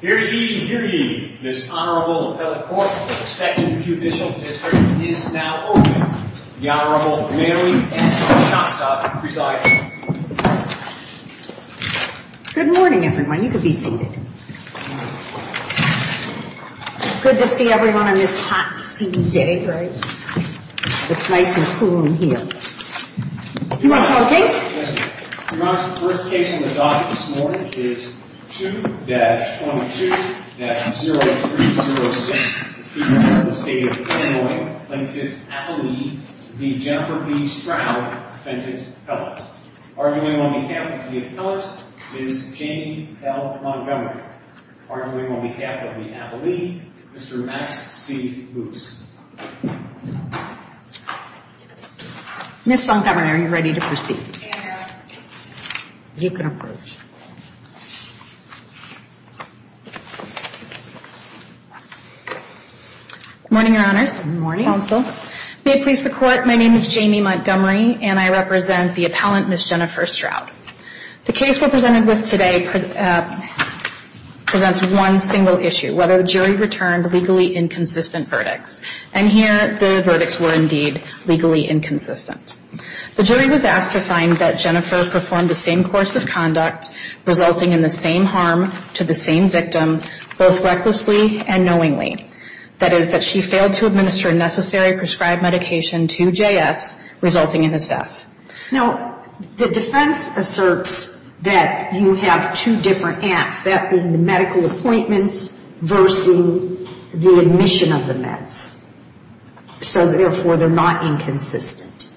Here ye, here ye, this Honorable Appellate Court of the Second Judicial District is now open. The Honorable Mary S. Shostakovich presiding. Good morning, everyone. You can be seated. Good to see everyone on this hot, steamy day, right? It's nice and cool in here. You want to tell the case? Your Honor, the first case on the docket this morning is 2-22-0306. The defendant of the State of Illinois, Plaintiff Appellee v. Jennifer B. Stroud, Defendant's Appellate. Arguing on behalf of the Appellate is Janie L. Montgomery. Arguing on behalf of the Appellee, Mr. Max C. Moose. Ms. Montgomery, are you ready to proceed? I am ready. You can approach. Good morning, Your Honors. Good morning, Counsel. May it please the Court, my name is Janie Montgomery, and I represent the Appellant, Ms. Jennifer Stroud. The case we're presented with today presents one single issue, whether the jury returned legally inconsistent verdicts. And here, the verdicts were indeed legally inconsistent. The jury was asked to find that Jennifer performed the same course of conduct, resulting in the same harm to the same victim, both recklessly and knowingly. That is, that she failed to administer necessary prescribed medication to J.S., resulting in his death. Now, the defense asserts that you have two different apps, that being the medical appointments versus the admission of the meds. So therefore, they're not inconsistent.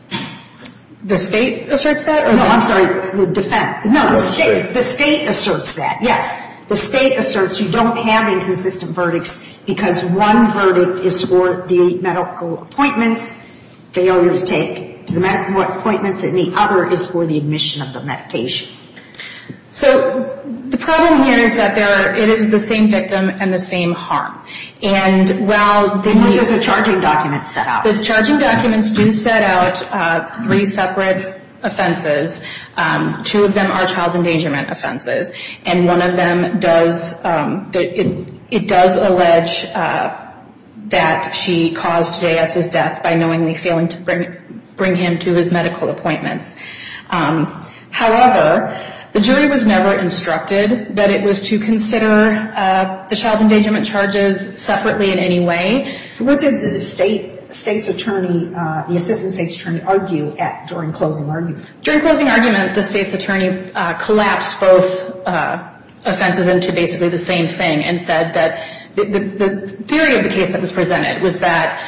The State asserts that? No, I'm sorry. The defense. No, the State. The State asserts that, yes. The State asserts you don't have inconsistent verdicts because one verdict is for the medical appointments, failure to take to the medical appointments, and the other is for the admission of the medication. So the problem here is that it is the same victim and the same harm. And while the charging documents set out. The charging documents do set out three separate offenses. Two of them are child endangerment offenses. And one of them does, it does allege that she caused J.S.'s death by knowingly failing to bring him to his medical appointments. However, the jury was never instructed that it was to consider the child endangerment charges separately in any way. What did the State's attorney, the Assistant State's attorney, argue during closing argument? During closing argument, the State's attorney collapsed both offenses into basically the same thing and said that the theory of the case that was presented was that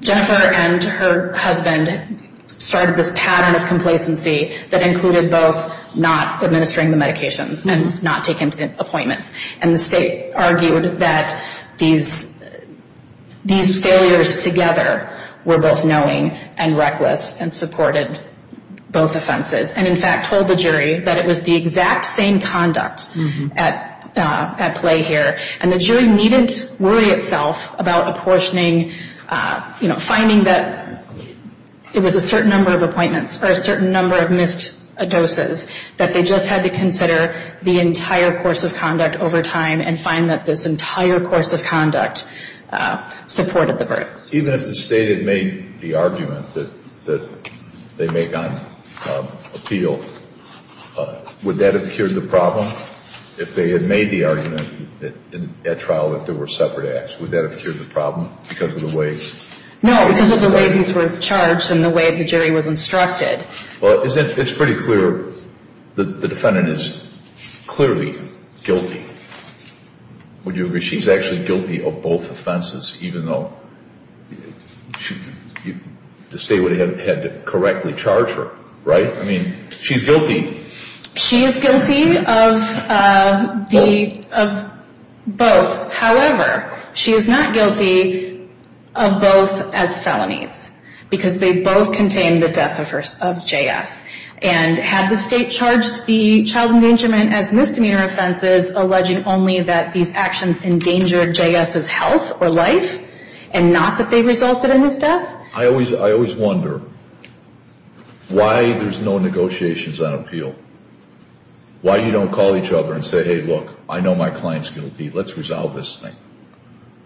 Jennifer and her husband started this pattern of complacency that included both not administering the medications and not taking appointments. And the State argued that these failures together were both knowing and reckless and supported both offenses. And, in fact, told the jury that it was the exact same conduct at play here. And the jury needed to worry itself about apportioning, you know, finding that it was a certain number of appointments or a certain number of missed doses that they just had to consider the entire course of conduct over time and find that this entire course of conduct supported the verdicts. Even if the State had made the argument that they make on appeal, would that have cured the problem? If they had made the argument at trial that there were separate acts, would that have cured the problem because of the way? No, because of the way these were charged and the way the jury was instructed. Well, it's pretty clear that the defendant is clearly guilty. Would you agree she's actually guilty of both offenses even though the State would have had to correctly charge her, right? I mean, she's guilty. She is guilty of both. However, she is not guilty of both as felonies because they both contain the death of J.S. And had the State charged the child endangerment as misdemeanor offenses, alleging only that these actions endangered J.S.'s health or life and not that they resulted in his death? I always wonder why there's no negotiations on appeal, why you don't call each other and say, hey, look, I know my client's guilty. Let's resolve this thing.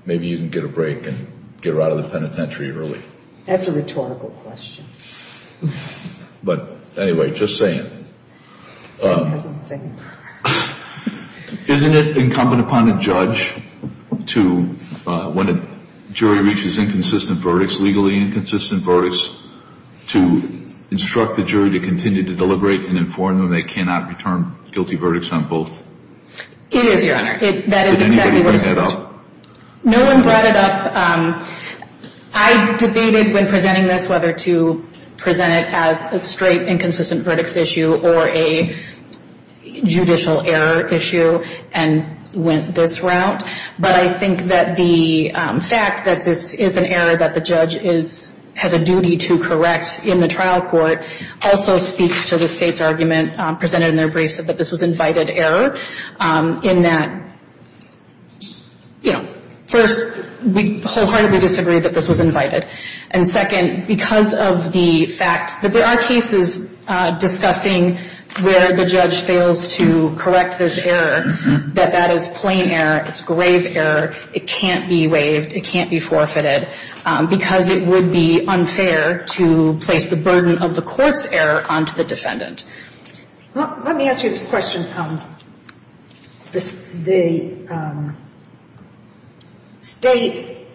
Maybe you can get a break and get her out of the penitentiary early. That's a rhetorical question. But anyway, just saying. Isn't it incumbent upon a judge to, when a jury reaches inconsistent verdicts, legally inconsistent verdicts, to instruct the jury to continue to deliberate and inform them they cannot return guilty verdicts on both? It is, Your Honor. That is exactly what it is. Did anybody bring that up? No one brought it up. I debated when presenting this whether to present it as a straight inconsistent verdicts issue or a judicial error issue and went this route. But I think that the fact that this is an error that the judge has a duty to correct in the trial court also speaks to the state's argument presented in their briefs that this was invited error in that, you know, first, we wholeheartedly disagree that this was invited. And second, because of the fact that there are cases discussing where the judge fails to correct this error, that that is plain error. It's grave error. It can't be waived. It can't be forfeited. Because it would be unfair to place the burden of the court's error onto the defendant. Let me ask you this question. The state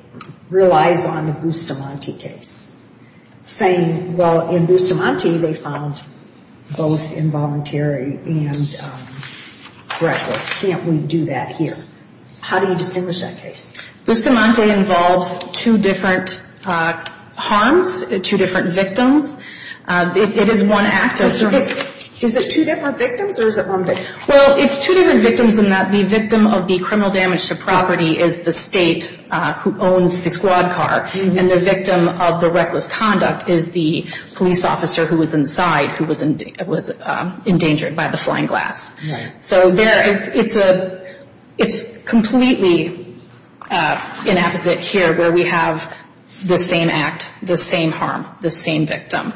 relies on the Bustamante case, saying, well, in Bustamante, they found both involuntary and reckless. Can't we do that here? How do you distinguish that case? Bustamante involves two different harms, two different victims. It is one act. Is it two different victims or is it one victim? Well, it's two different victims in that the victim of the criminal damage to property is the state who owns the squad car. And the victim of the reckless conduct is the police officer who was inside who was endangered by the flying glass. So it's completely inapposite here where we have the same act, the same harm, the same victim.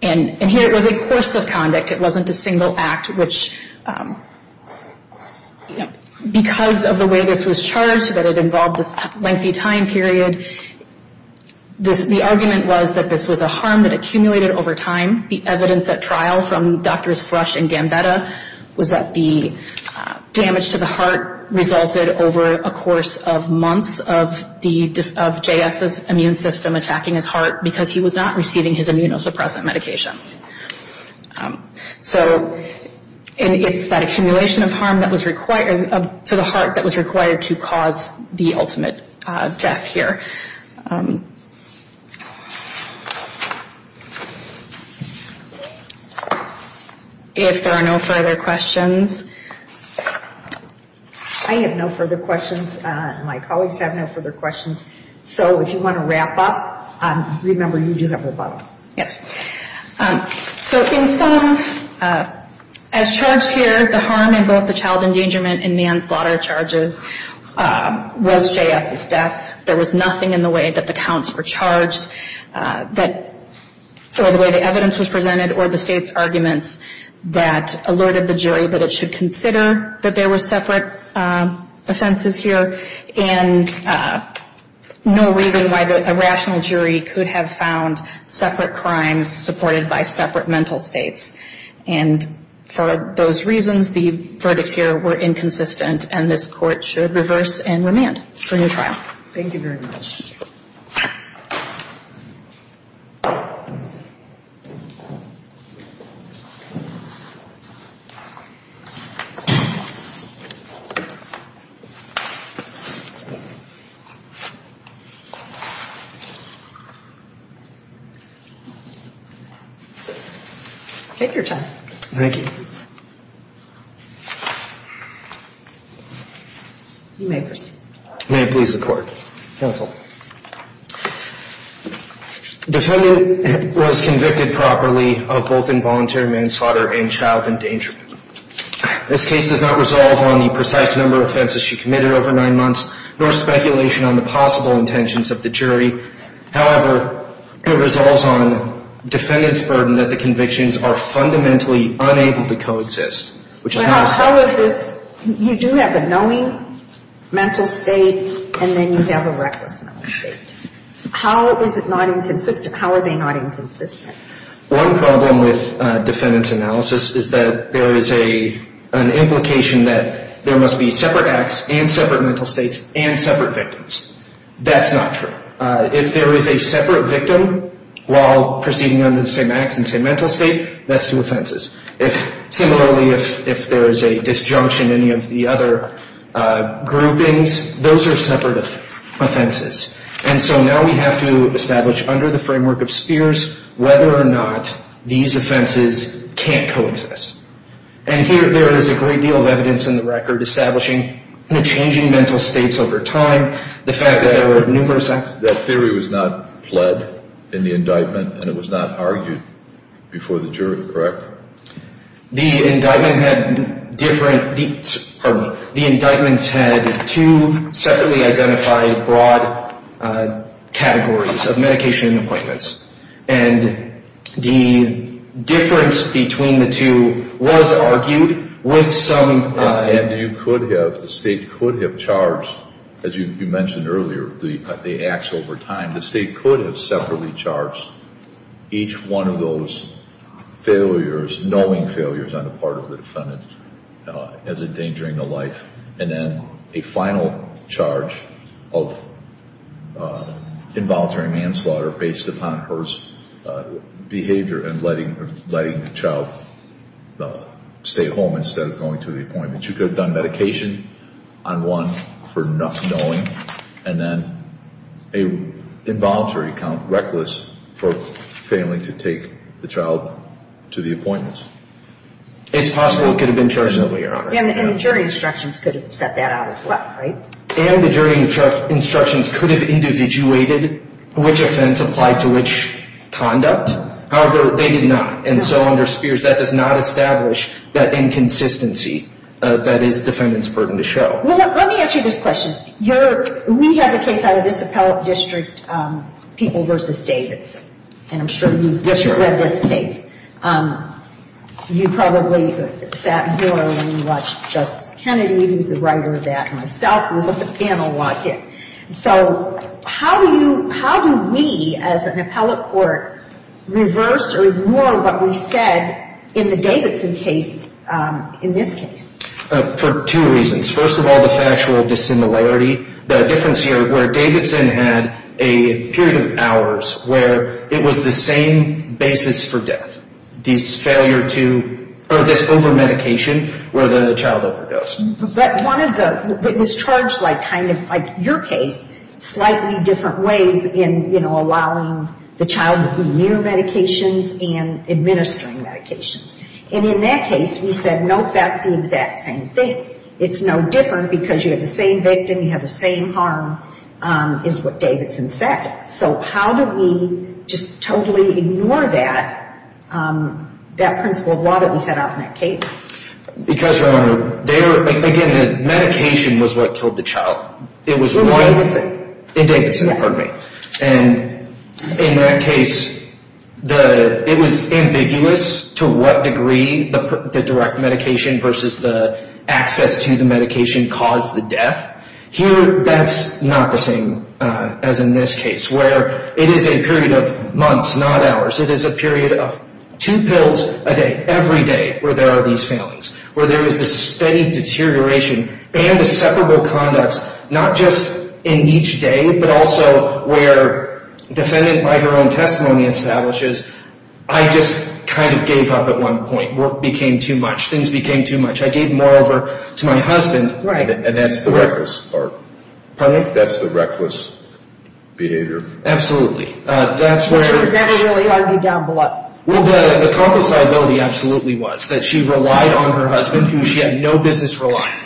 And here it was a course of conduct. It wasn't a single act, which because of the way this was charged, that it involved this lengthy time period, the argument was that this was a harm that accumulated over time. The evidence at trial from Drs. Thrush and Gambetta was that the damage to the heart resulted over a course of months of J.S.'s immune system attacking his heart because he was not receiving his immunosuppressant medications. So it's that accumulation of harm to the heart that was required to cause the ultimate death here. If there are no further questions. I have no further questions. My colleagues have no further questions. So if you want to wrap up, remember you do have a bottle. So in sum, as charged here, the harm in both the child endangerment and manslaughter charges was J.S.'s death. There was nothing in the way that the counts were charged or the way the evidence was presented or the state's arguments that alerted the jury that it should consider that there were separate offenses here and no reason why a rational jury could have found separate crimes supported by separate mental states. And for those reasons, the verdicts here were inconsistent, and this court should reverse and remand for new trial. Thank you very much. Take your time. Thank you. You may proceed. May it please the Court. Counsel. Defendant was convicted properly of both involuntary manslaughter and child endangerment. This case does not resolve on the precise number of offenses she committed over nine months, nor speculation on the possible intentions of the jury. However, it resolves on defendant's burden that the convictions are fundamentally unable to coexist, which is not a statement. But how is this? You do have a knowing mental state, and then you have a reckless mental state. How is it not inconsistent? How are they not inconsistent? One problem with defendant's analysis is that there is an implication that there must be separate acts and separate mental states and separate victims. That's not true. If there is a separate victim while proceeding under the same acts and same mental state, that's two offenses. Similarly, if there is a disjunction in any of the other groupings, those are separate offenses. And so now we have to establish under the framework of Spears whether or not these offenses can't coexist. And here there is a great deal of evidence in the record establishing the changing mental states over time, the fact that there were numerous acts. That theory was not fled in the indictment, and it was not argued before the jury, correct? The indictments had two separately identified broad categories of medication and appointments. And the difference between the two was argued with some- And you could have, the state could have charged, as you mentioned earlier, the acts over time. The state could have separately charged each one of those failures, knowing failures on the part of the defendant as endangering the life, and then a final charge of involuntary manslaughter based upon her behavior and letting the child stay at home instead of going to the appointment. You could have done medication on one for knowing, and then an involuntary count, reckless, for failing to take the child to the appointments. It's possible it could have been chosen earlier on. And the jury instructions could have set that out as well, right? And the jury instructions could have individuated which offense applied to which conduct. However, they did not. And so under Spears, that does not establish that inconsistency that is the defendant's burden to show. Well, let me ask you this question. We have a case out of this appellate district, People v. Davidson. And I'm sure you've read this case. You probably sat here when you watched Justice Kennedy, who's the writer of that, and myself was at the panel walk-in. So how do we as an appellate court reverse or ignore what we said in the Davidson case, in this case? For two reasons. First of all, the factual dissimilarity, the difference here where Davidson had a period of hours where it was the same basis for death, this failure to, or this over-medication where the child overdosed. But one of the, it was charged like kind of like your case, slightly different ways in, you know, allowing the child to be near medications and administering medications. And in that case, we said, nope, that's the exact same thing. It's no different because you have the same victim, you have the same harm, is what Davidson said. So how do we just totally ignore that, that principle of law that we set out in that case? Because, Your Honor, there, again, the medication was what killed the child. It was what? In Davidson. In Davidson, pardon me. And in that case, the, it was ambiguous to what degree the direct medication versus the access to the medication caused the death. Here, that's not the same as in this case, where it is a period of months, not hours. It is a period of two pills a day, every day, where there are these failings, where there is this steady deterioration and the separable conducts, not just in each day, but also where defendant by her own testimony establishes, I just kind of gave up at one point. Work became too much. Things became too much. I gave more over to my husband. Right. And that's the reckless part. Pardon me? That's the reckless behavior. Absolutely. That's where. She was never really arguing down below. Well, the compensability absolutely was, that she relied on her husband, who she had no business relying,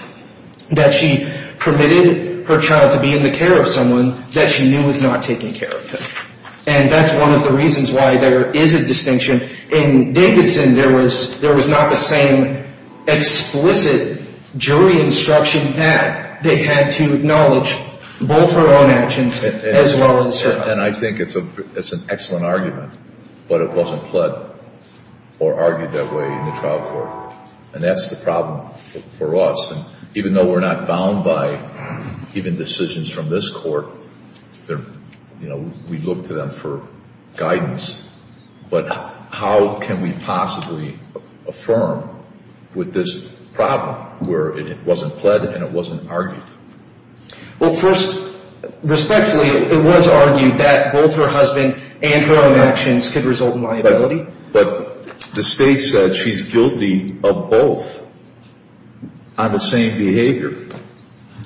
that she permitted her child to be in the care of someone that she knew was not taking care of him. And that's one of the reasons why there is a distinction. In Dickinson, there was not the same explicit jury instruction that they had to acknowledge both her own actions as well as her husband's. And I think it's an excellent argument, but it wasn't pled or argued that way in the trial court. And that's the problem for us. And even though we're not bound by even decisions from this court, we look to them for guidance. But how can we possibly affirm with this problem where it wasn't pled and it wasn't argued? Well, first, respectfully, it was argued that both her husband and her own actions could result in liability. But the state said she's guilty of both on the same behavior.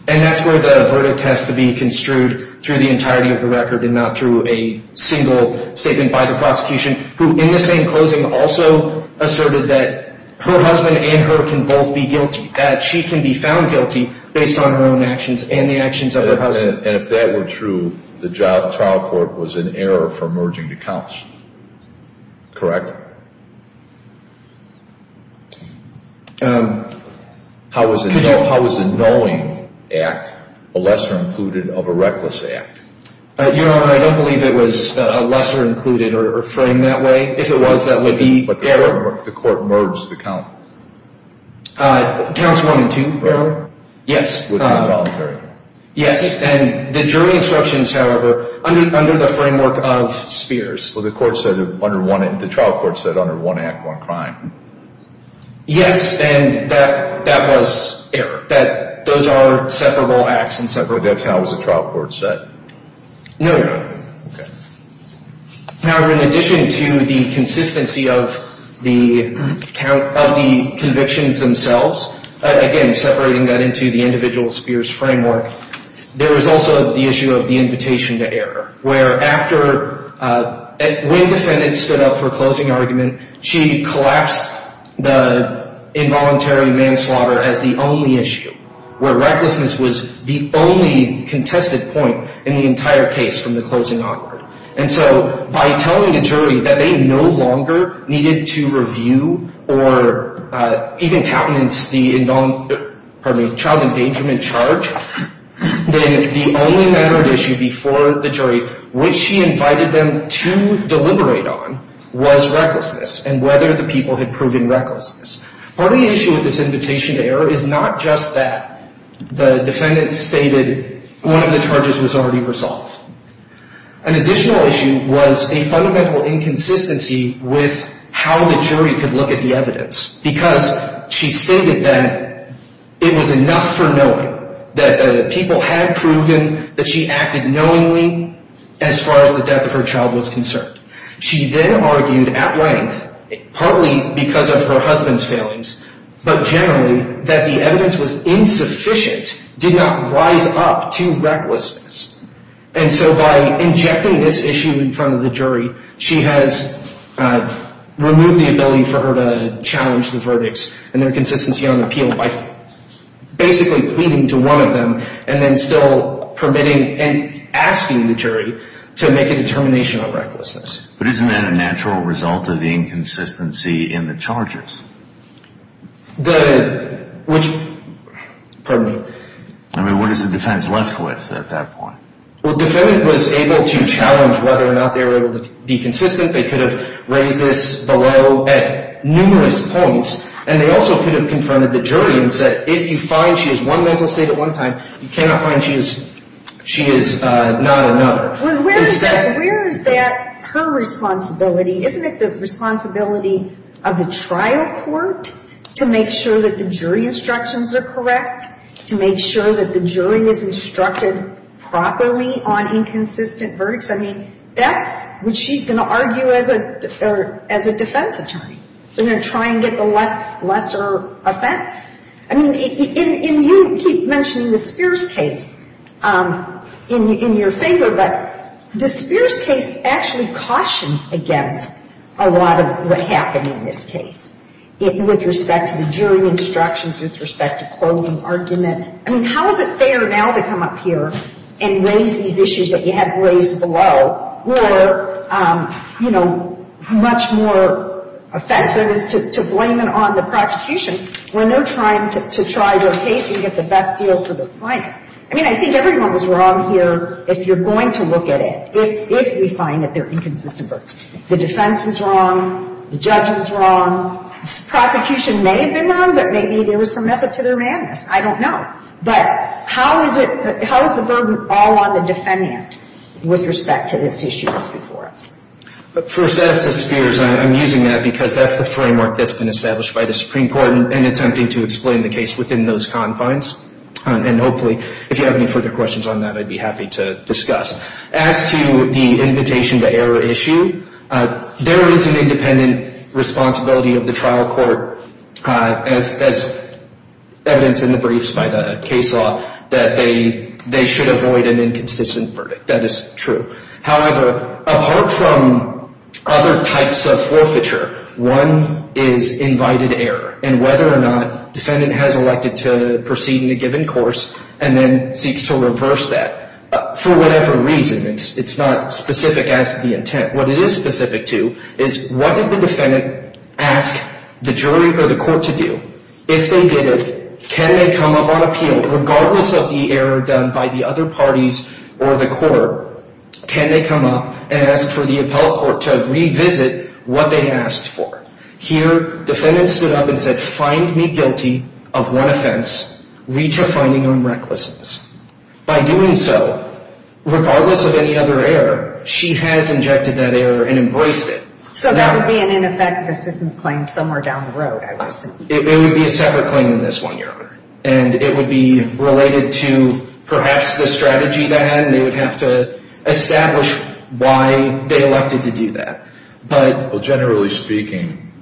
And that's where the verdict has to be construed through the entirety of the record and not through a single statement by the prosecution, who in the same closing also asserted that her husband and her can both be guilty, that she can be found guilty based on her own actions and the actions of her husband. And if that were true, the trial court was in error for merging the counts, correct? Correct. How is a knowing act a lesser included of a reckless act? Your Honor, I don't believe it was a lesser included or framed that way. If it was, that would be error. But the court merged the count. Counts one and two, Your Honor. Yes. Within the voluntary. Yes. And the jury instructions, however, under the framework of spheres. The trial court said under one act, one crime. Yes, and that was error. Those are separable acts. But that's how the trial court said. No, Your Honor. Okay. However, in addition to the consistency of the convictions themselves, again, separating that into the individual spheres framework, there is also the issue of the invitation to error, where after when the defendant stood up for a closing argument, she collapsed the involuntary manslaughter as the only issue, where recklessness was the only contested point in the entire case from the closing argument. And so by telling the jury that they no longer needed to review or even countenance the child endangerment charge, then the only matter of issue before the jury, which she invited them to deliberate on, was recklessness and whether the people had proven recklessness. Part of the issue with this invitation to error is not just that the defendant stated one of the charges was already resolved. An additional issue was a fundamental inconsistency with how the jury could look at the evidence because she stated that it was enough for knowing that the people had proven that she acted knowingly as far as the death of her child was concerned. She then argued at length, partly because of her husband's failings, but generally that the evidence was insufficient, did not rise up to recklessness. And so by injecting this issue in front of the jury, she has removed the ability for her to challenge the verdicts and their consistency on appeal by basically pleading to one of them and then still permitting and asking the jury to make a determination on recklessness. But isn't that a natural result of the inconsistency in the charges? The, which, pardon me. I mean, what is the defense left with at that point? Well, the defendant was able to challenge whether or not they were able to be consistent. They could have raised this below at numerous points. And they also could have confronted the jury and said, if you find she has one mental state at one time, you cannot find she is not another. Well, where is that her responsibility? Isn't it the responsibility of the trial court to make sure that the jury instructions are correct, to make sure that the jury is instructed properly on inconsistent verdicts? I mean, that's what she's going to argue as a defense attorney. They're going to try and get the lesser offense. I mean, and you keep mentioning the Spears case in your favor, but the Spears case actually cautions against a lot of what happened in this case with respect to the jury instructions, with respect to closing argument. I mean, how is it fair now to come up here and raise these issues that you had raised below or, you know, much more offensive is to blame it on the prosecution when they're trying to try their case and get the best deal for the client? I mean, I think everyone was wrong here, if you're going to look at it, if we find that there are inconsistent verdicts. The defense was wrong. The judge was wrong. The prosecution may have been wrong, but maybe there was some method to their madness. I don't know. But how is the burden all on the defendant with respect to this issue that's before us? First, as to Spears, I'm using that because that's the framework that's been established by the Supreme Court in attempting to explain the case within those confines. And hopefully, if you have any further questions on that, I'd be happy to discuss. As to the invitation to error issue, there is an independent responsibility of the trial court, as evidenced in the briefs by the case law, that they should avoid an inconsistent verdict. That is true. However, apart from other types of forfeiture, one is invited error, and whether or not the defendant has elected to proceed in a given course and then seeks to reverse that for whatever reason. It's not specific as to the intent. What it is specific to is what did the defendant ask the jury or the court to do? If they did it, can they come up on appeal, regardless of the error done by the other parties or the court, can they come up and ask for the appellate court to revisit what they asked for? Here, defendant stood up and said, find me guilty of one offense, reach a finding on recklessness. By doing so, regardless of any other error, she has injected that error and embraced it. So that would be an ineffective assistance claim somewhere down the road, I would assume. It would be a separate claim than this one, Your Honor. And it would be related to perhaps the strategy they had, and they would have to establish why they elected to do that. Well, generally speaking,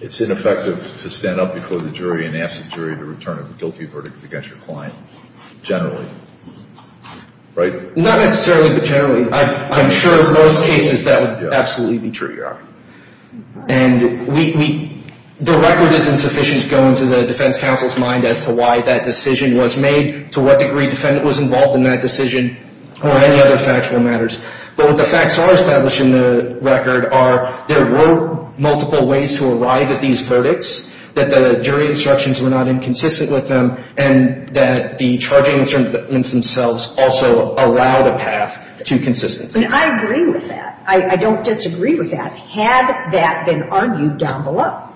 it's ineffective to stand up before the jury and ask the jury to return a guilty verdict against your client, generally, right? Not necessarily, but generally. I'm sure in most cases that would absolutely be true, Your Honor. And the record isn't sufficient to go into the defense counsel's mind as to why that decision was made, to what degree the defendant was involved in that decision, or any other factual matters. But what the facts are established in the record are there were multiple ways to arrive at these verdicts, that the jury instructions were not inconsistent with them, and that the charging instruments themselves also allowed a path to consistency. And I agree with that. I don't disagree with that. Had that been argued down below,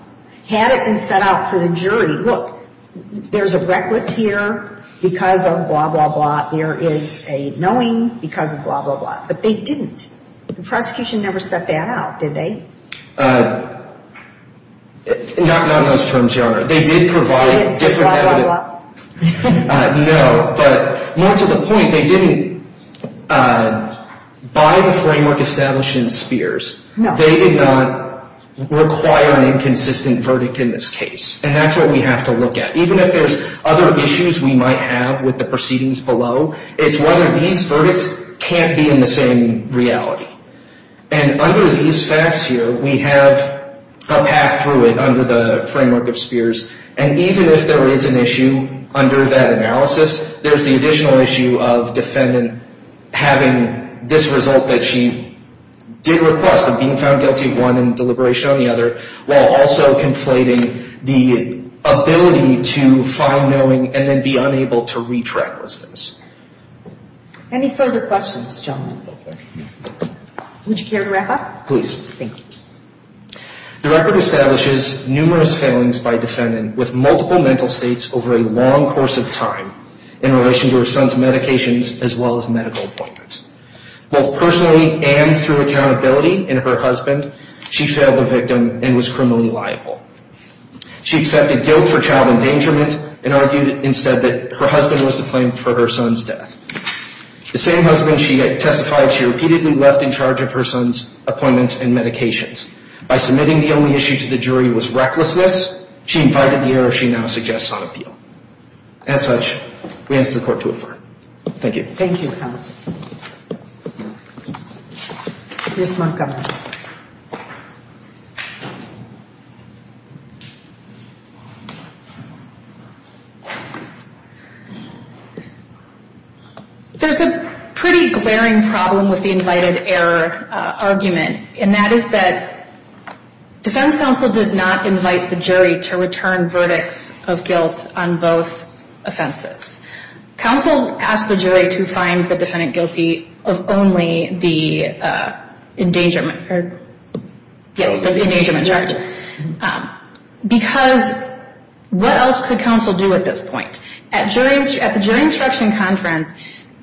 had it been set out for the jury, look, there's a reckless here because of blah, blah, blah. There is a knowing because of blah, blah, blah. But they didn't. The prosecution never set that out, did they? Not in those terms, Your Honor. They did provide different evidence. Blah, blah, blah. No. But more to the point, they didn't, by the framework established in Spears, they did not require an inconsistent verdict in this case. And that's what we have to look at. Even if there's other issues we might have with the proceedings below, it's whether these verdicts can't be in the same reality. And under these facts here, we have a path through it under the framework of Spears. And even if there is an issue under that analysis, there's the additional issue of defendant having this result that she did request, of being found guilty of one and deliberation on the other, while also conflating the ability to find knowing and then be unable to reach recklessness. Any further questions, gentlemen? Would you care to wrap up? Please. Thank you. The record establishes numerous failings by defendant with multiple mental states over a long course of time in relation to her son's medications as well as medical appointments. Both personally and through accountability in her husband, she failed the victim and was criminally liable. She accepted guilt for child endangerment and argued instead that her husband was to blame for her son's death. The same husband she testified, she repeatedly left in charge of her son's appointments and medications. By submitting the only issue to the jury was recklessness, she invited the error she now suggests on appeal. As such, we ask the Court to affirm. Thank you. Thank you, counsel. Ms. Montgomery. There's a pretty glaring problem with the invited error argument, and that is that defense counsel did not invite the jury to return verdicts of guilt on both offenses. Counsel asked the jury to find the defendant guilty of only the endangerment charge. Because what else could counsel do at this point? At the jury instruction conference,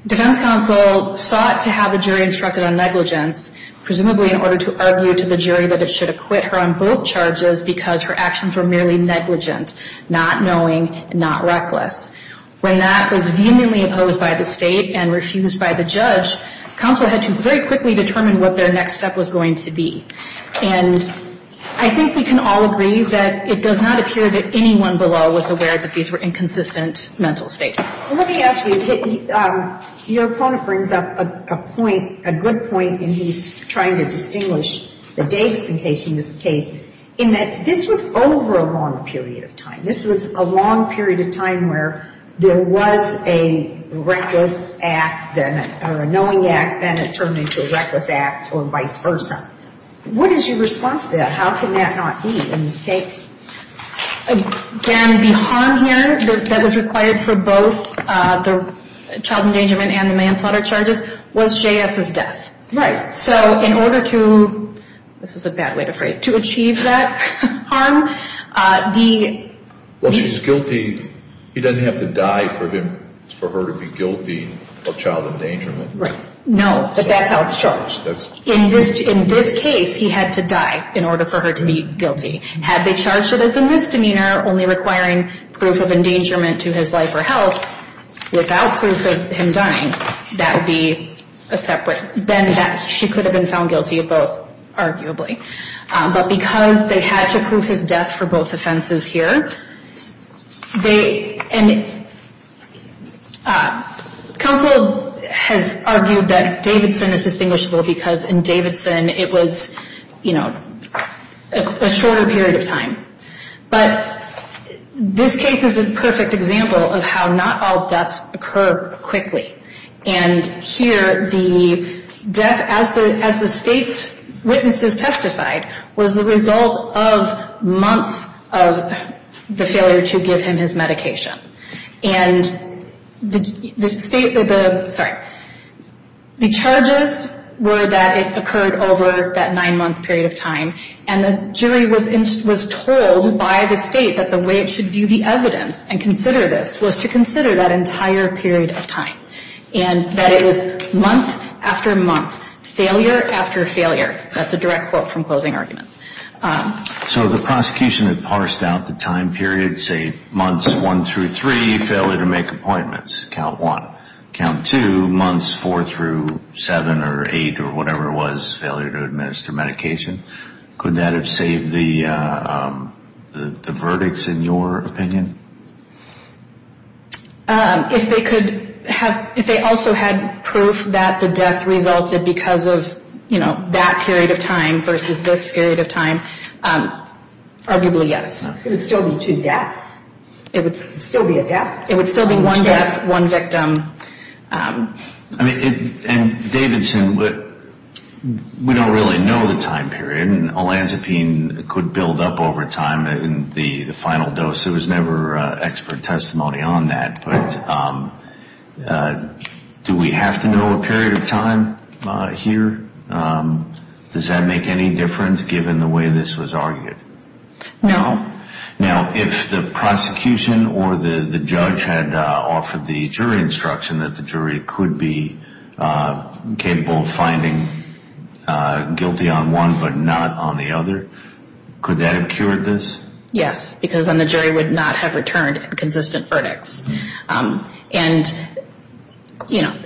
defense counsel sought to have the jury instructed on negligence, presumably in order to argue to the jury that it should acquit her on both charges because her actions were merely negligent, not knowing, not reckless. When that was vehemently opposed by the State and refused by the judge, counsel had to very quickly determine what their next step was going to be. And I think we can all agree that it does not appear that anyone below was aware that these were inconsistent mental states. Let me ask you, your opponent brings up a point, a good point, and he's trying to distinguish the Davidson case from this case, in that this was over a long period of time. This was a long period of time where there was a reckless act, or a knowing act, then it turned into a reckless act, or vice versa. What is your response to that? How can that not be in this case? Again, the harm here that was required for both the child endangerment and the manslaughter charges was J.S.'s death. Right. So in order to, this is a bad way to phrase it, to achieve that harm, Well, she's guilty, he doesn't have to die for her to be guilty of child endangerment. Right. No, but that's how it's charged. In this case, he had to die in order for her to be guilty. Had they charged it as a misdemeanor, only requiring proof of endangerment to his life or health, without proof of him dying, that would be a separate, then she could have been found guilty of both, arguably. But because they had to prove his death for both offenses here, and counsel has argued that Davidson is distinguishable because in Davidson it was, you know, a shorter period of time. But this case is a perfect example of how not all deaths occur quickly. And here the death, as the state's witnesses testified, was the result of months of the failure to give him his medication. And the state, sorry, the charges were that it occurred over that nine-month period of time, and the jury was told by the state that the way it should view the evidence and consider this was to consider that entire period of time, and that it was month after month, failure after failure. That's a direct quote from closing arguments. So the prosecution had parsed out the time period, say, months one through three, failure to make appointments, count one. Count two, months four through seven or eight or whatever it was, failure to administer medication. Could that have saved the verdicts in your opinion? If they also had proof that the death resulted because of, you know, that period of time versus this period of time, arguably yes. It would still be two deaths. It would still be a death. It would still be one death, one victim. I mean, and Davidson, we don't really know the time period, and olanzapine could build up over time in the final dose. There was never expert testimony on that. But do we have to know a period of time here? Does that make any difference given the way this was argued? No. Now, if the prosecution or the judge had offered the jury instruction that the jury could be capable of finding guilty on one but not on the other, could that have cured this? Yes, because then the jury would not have returned a consistent verdict. And, you know,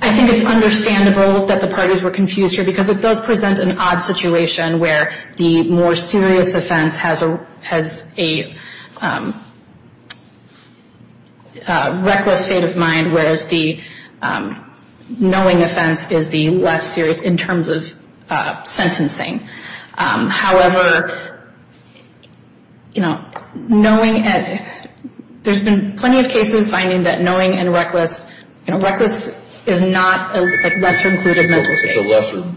I think it's understandable that the parties were confused here because it does present an odd situation where the more serious offense has a reckless state of mind, whereas the knowing offense is the less serious in terms of sentencing. However, you know, there's been plenty of cases finding that knowing and reckless, you know, reckless is not a lesser included mental state. It's a lesser,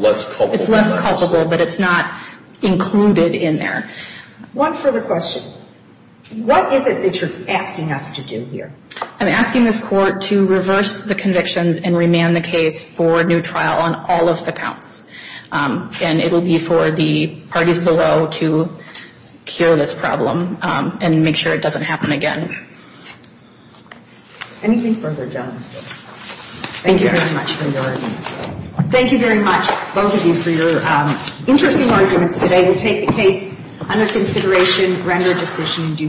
less culpable offense. It's less culpable, but it's not included in there. One further question. What is it that you're asking us to do here? I'm asking this Court to reverse the convictions and remand the case for a new trial on all of the counts. And it will be for the parties below to cure this problem and make sure it doesn't happen again. Anything further, Joan? Thank you very much for your argument. Thank you very much, both of you, for your interesting arguments today. We'll take the case under consideration, render a decision in due course.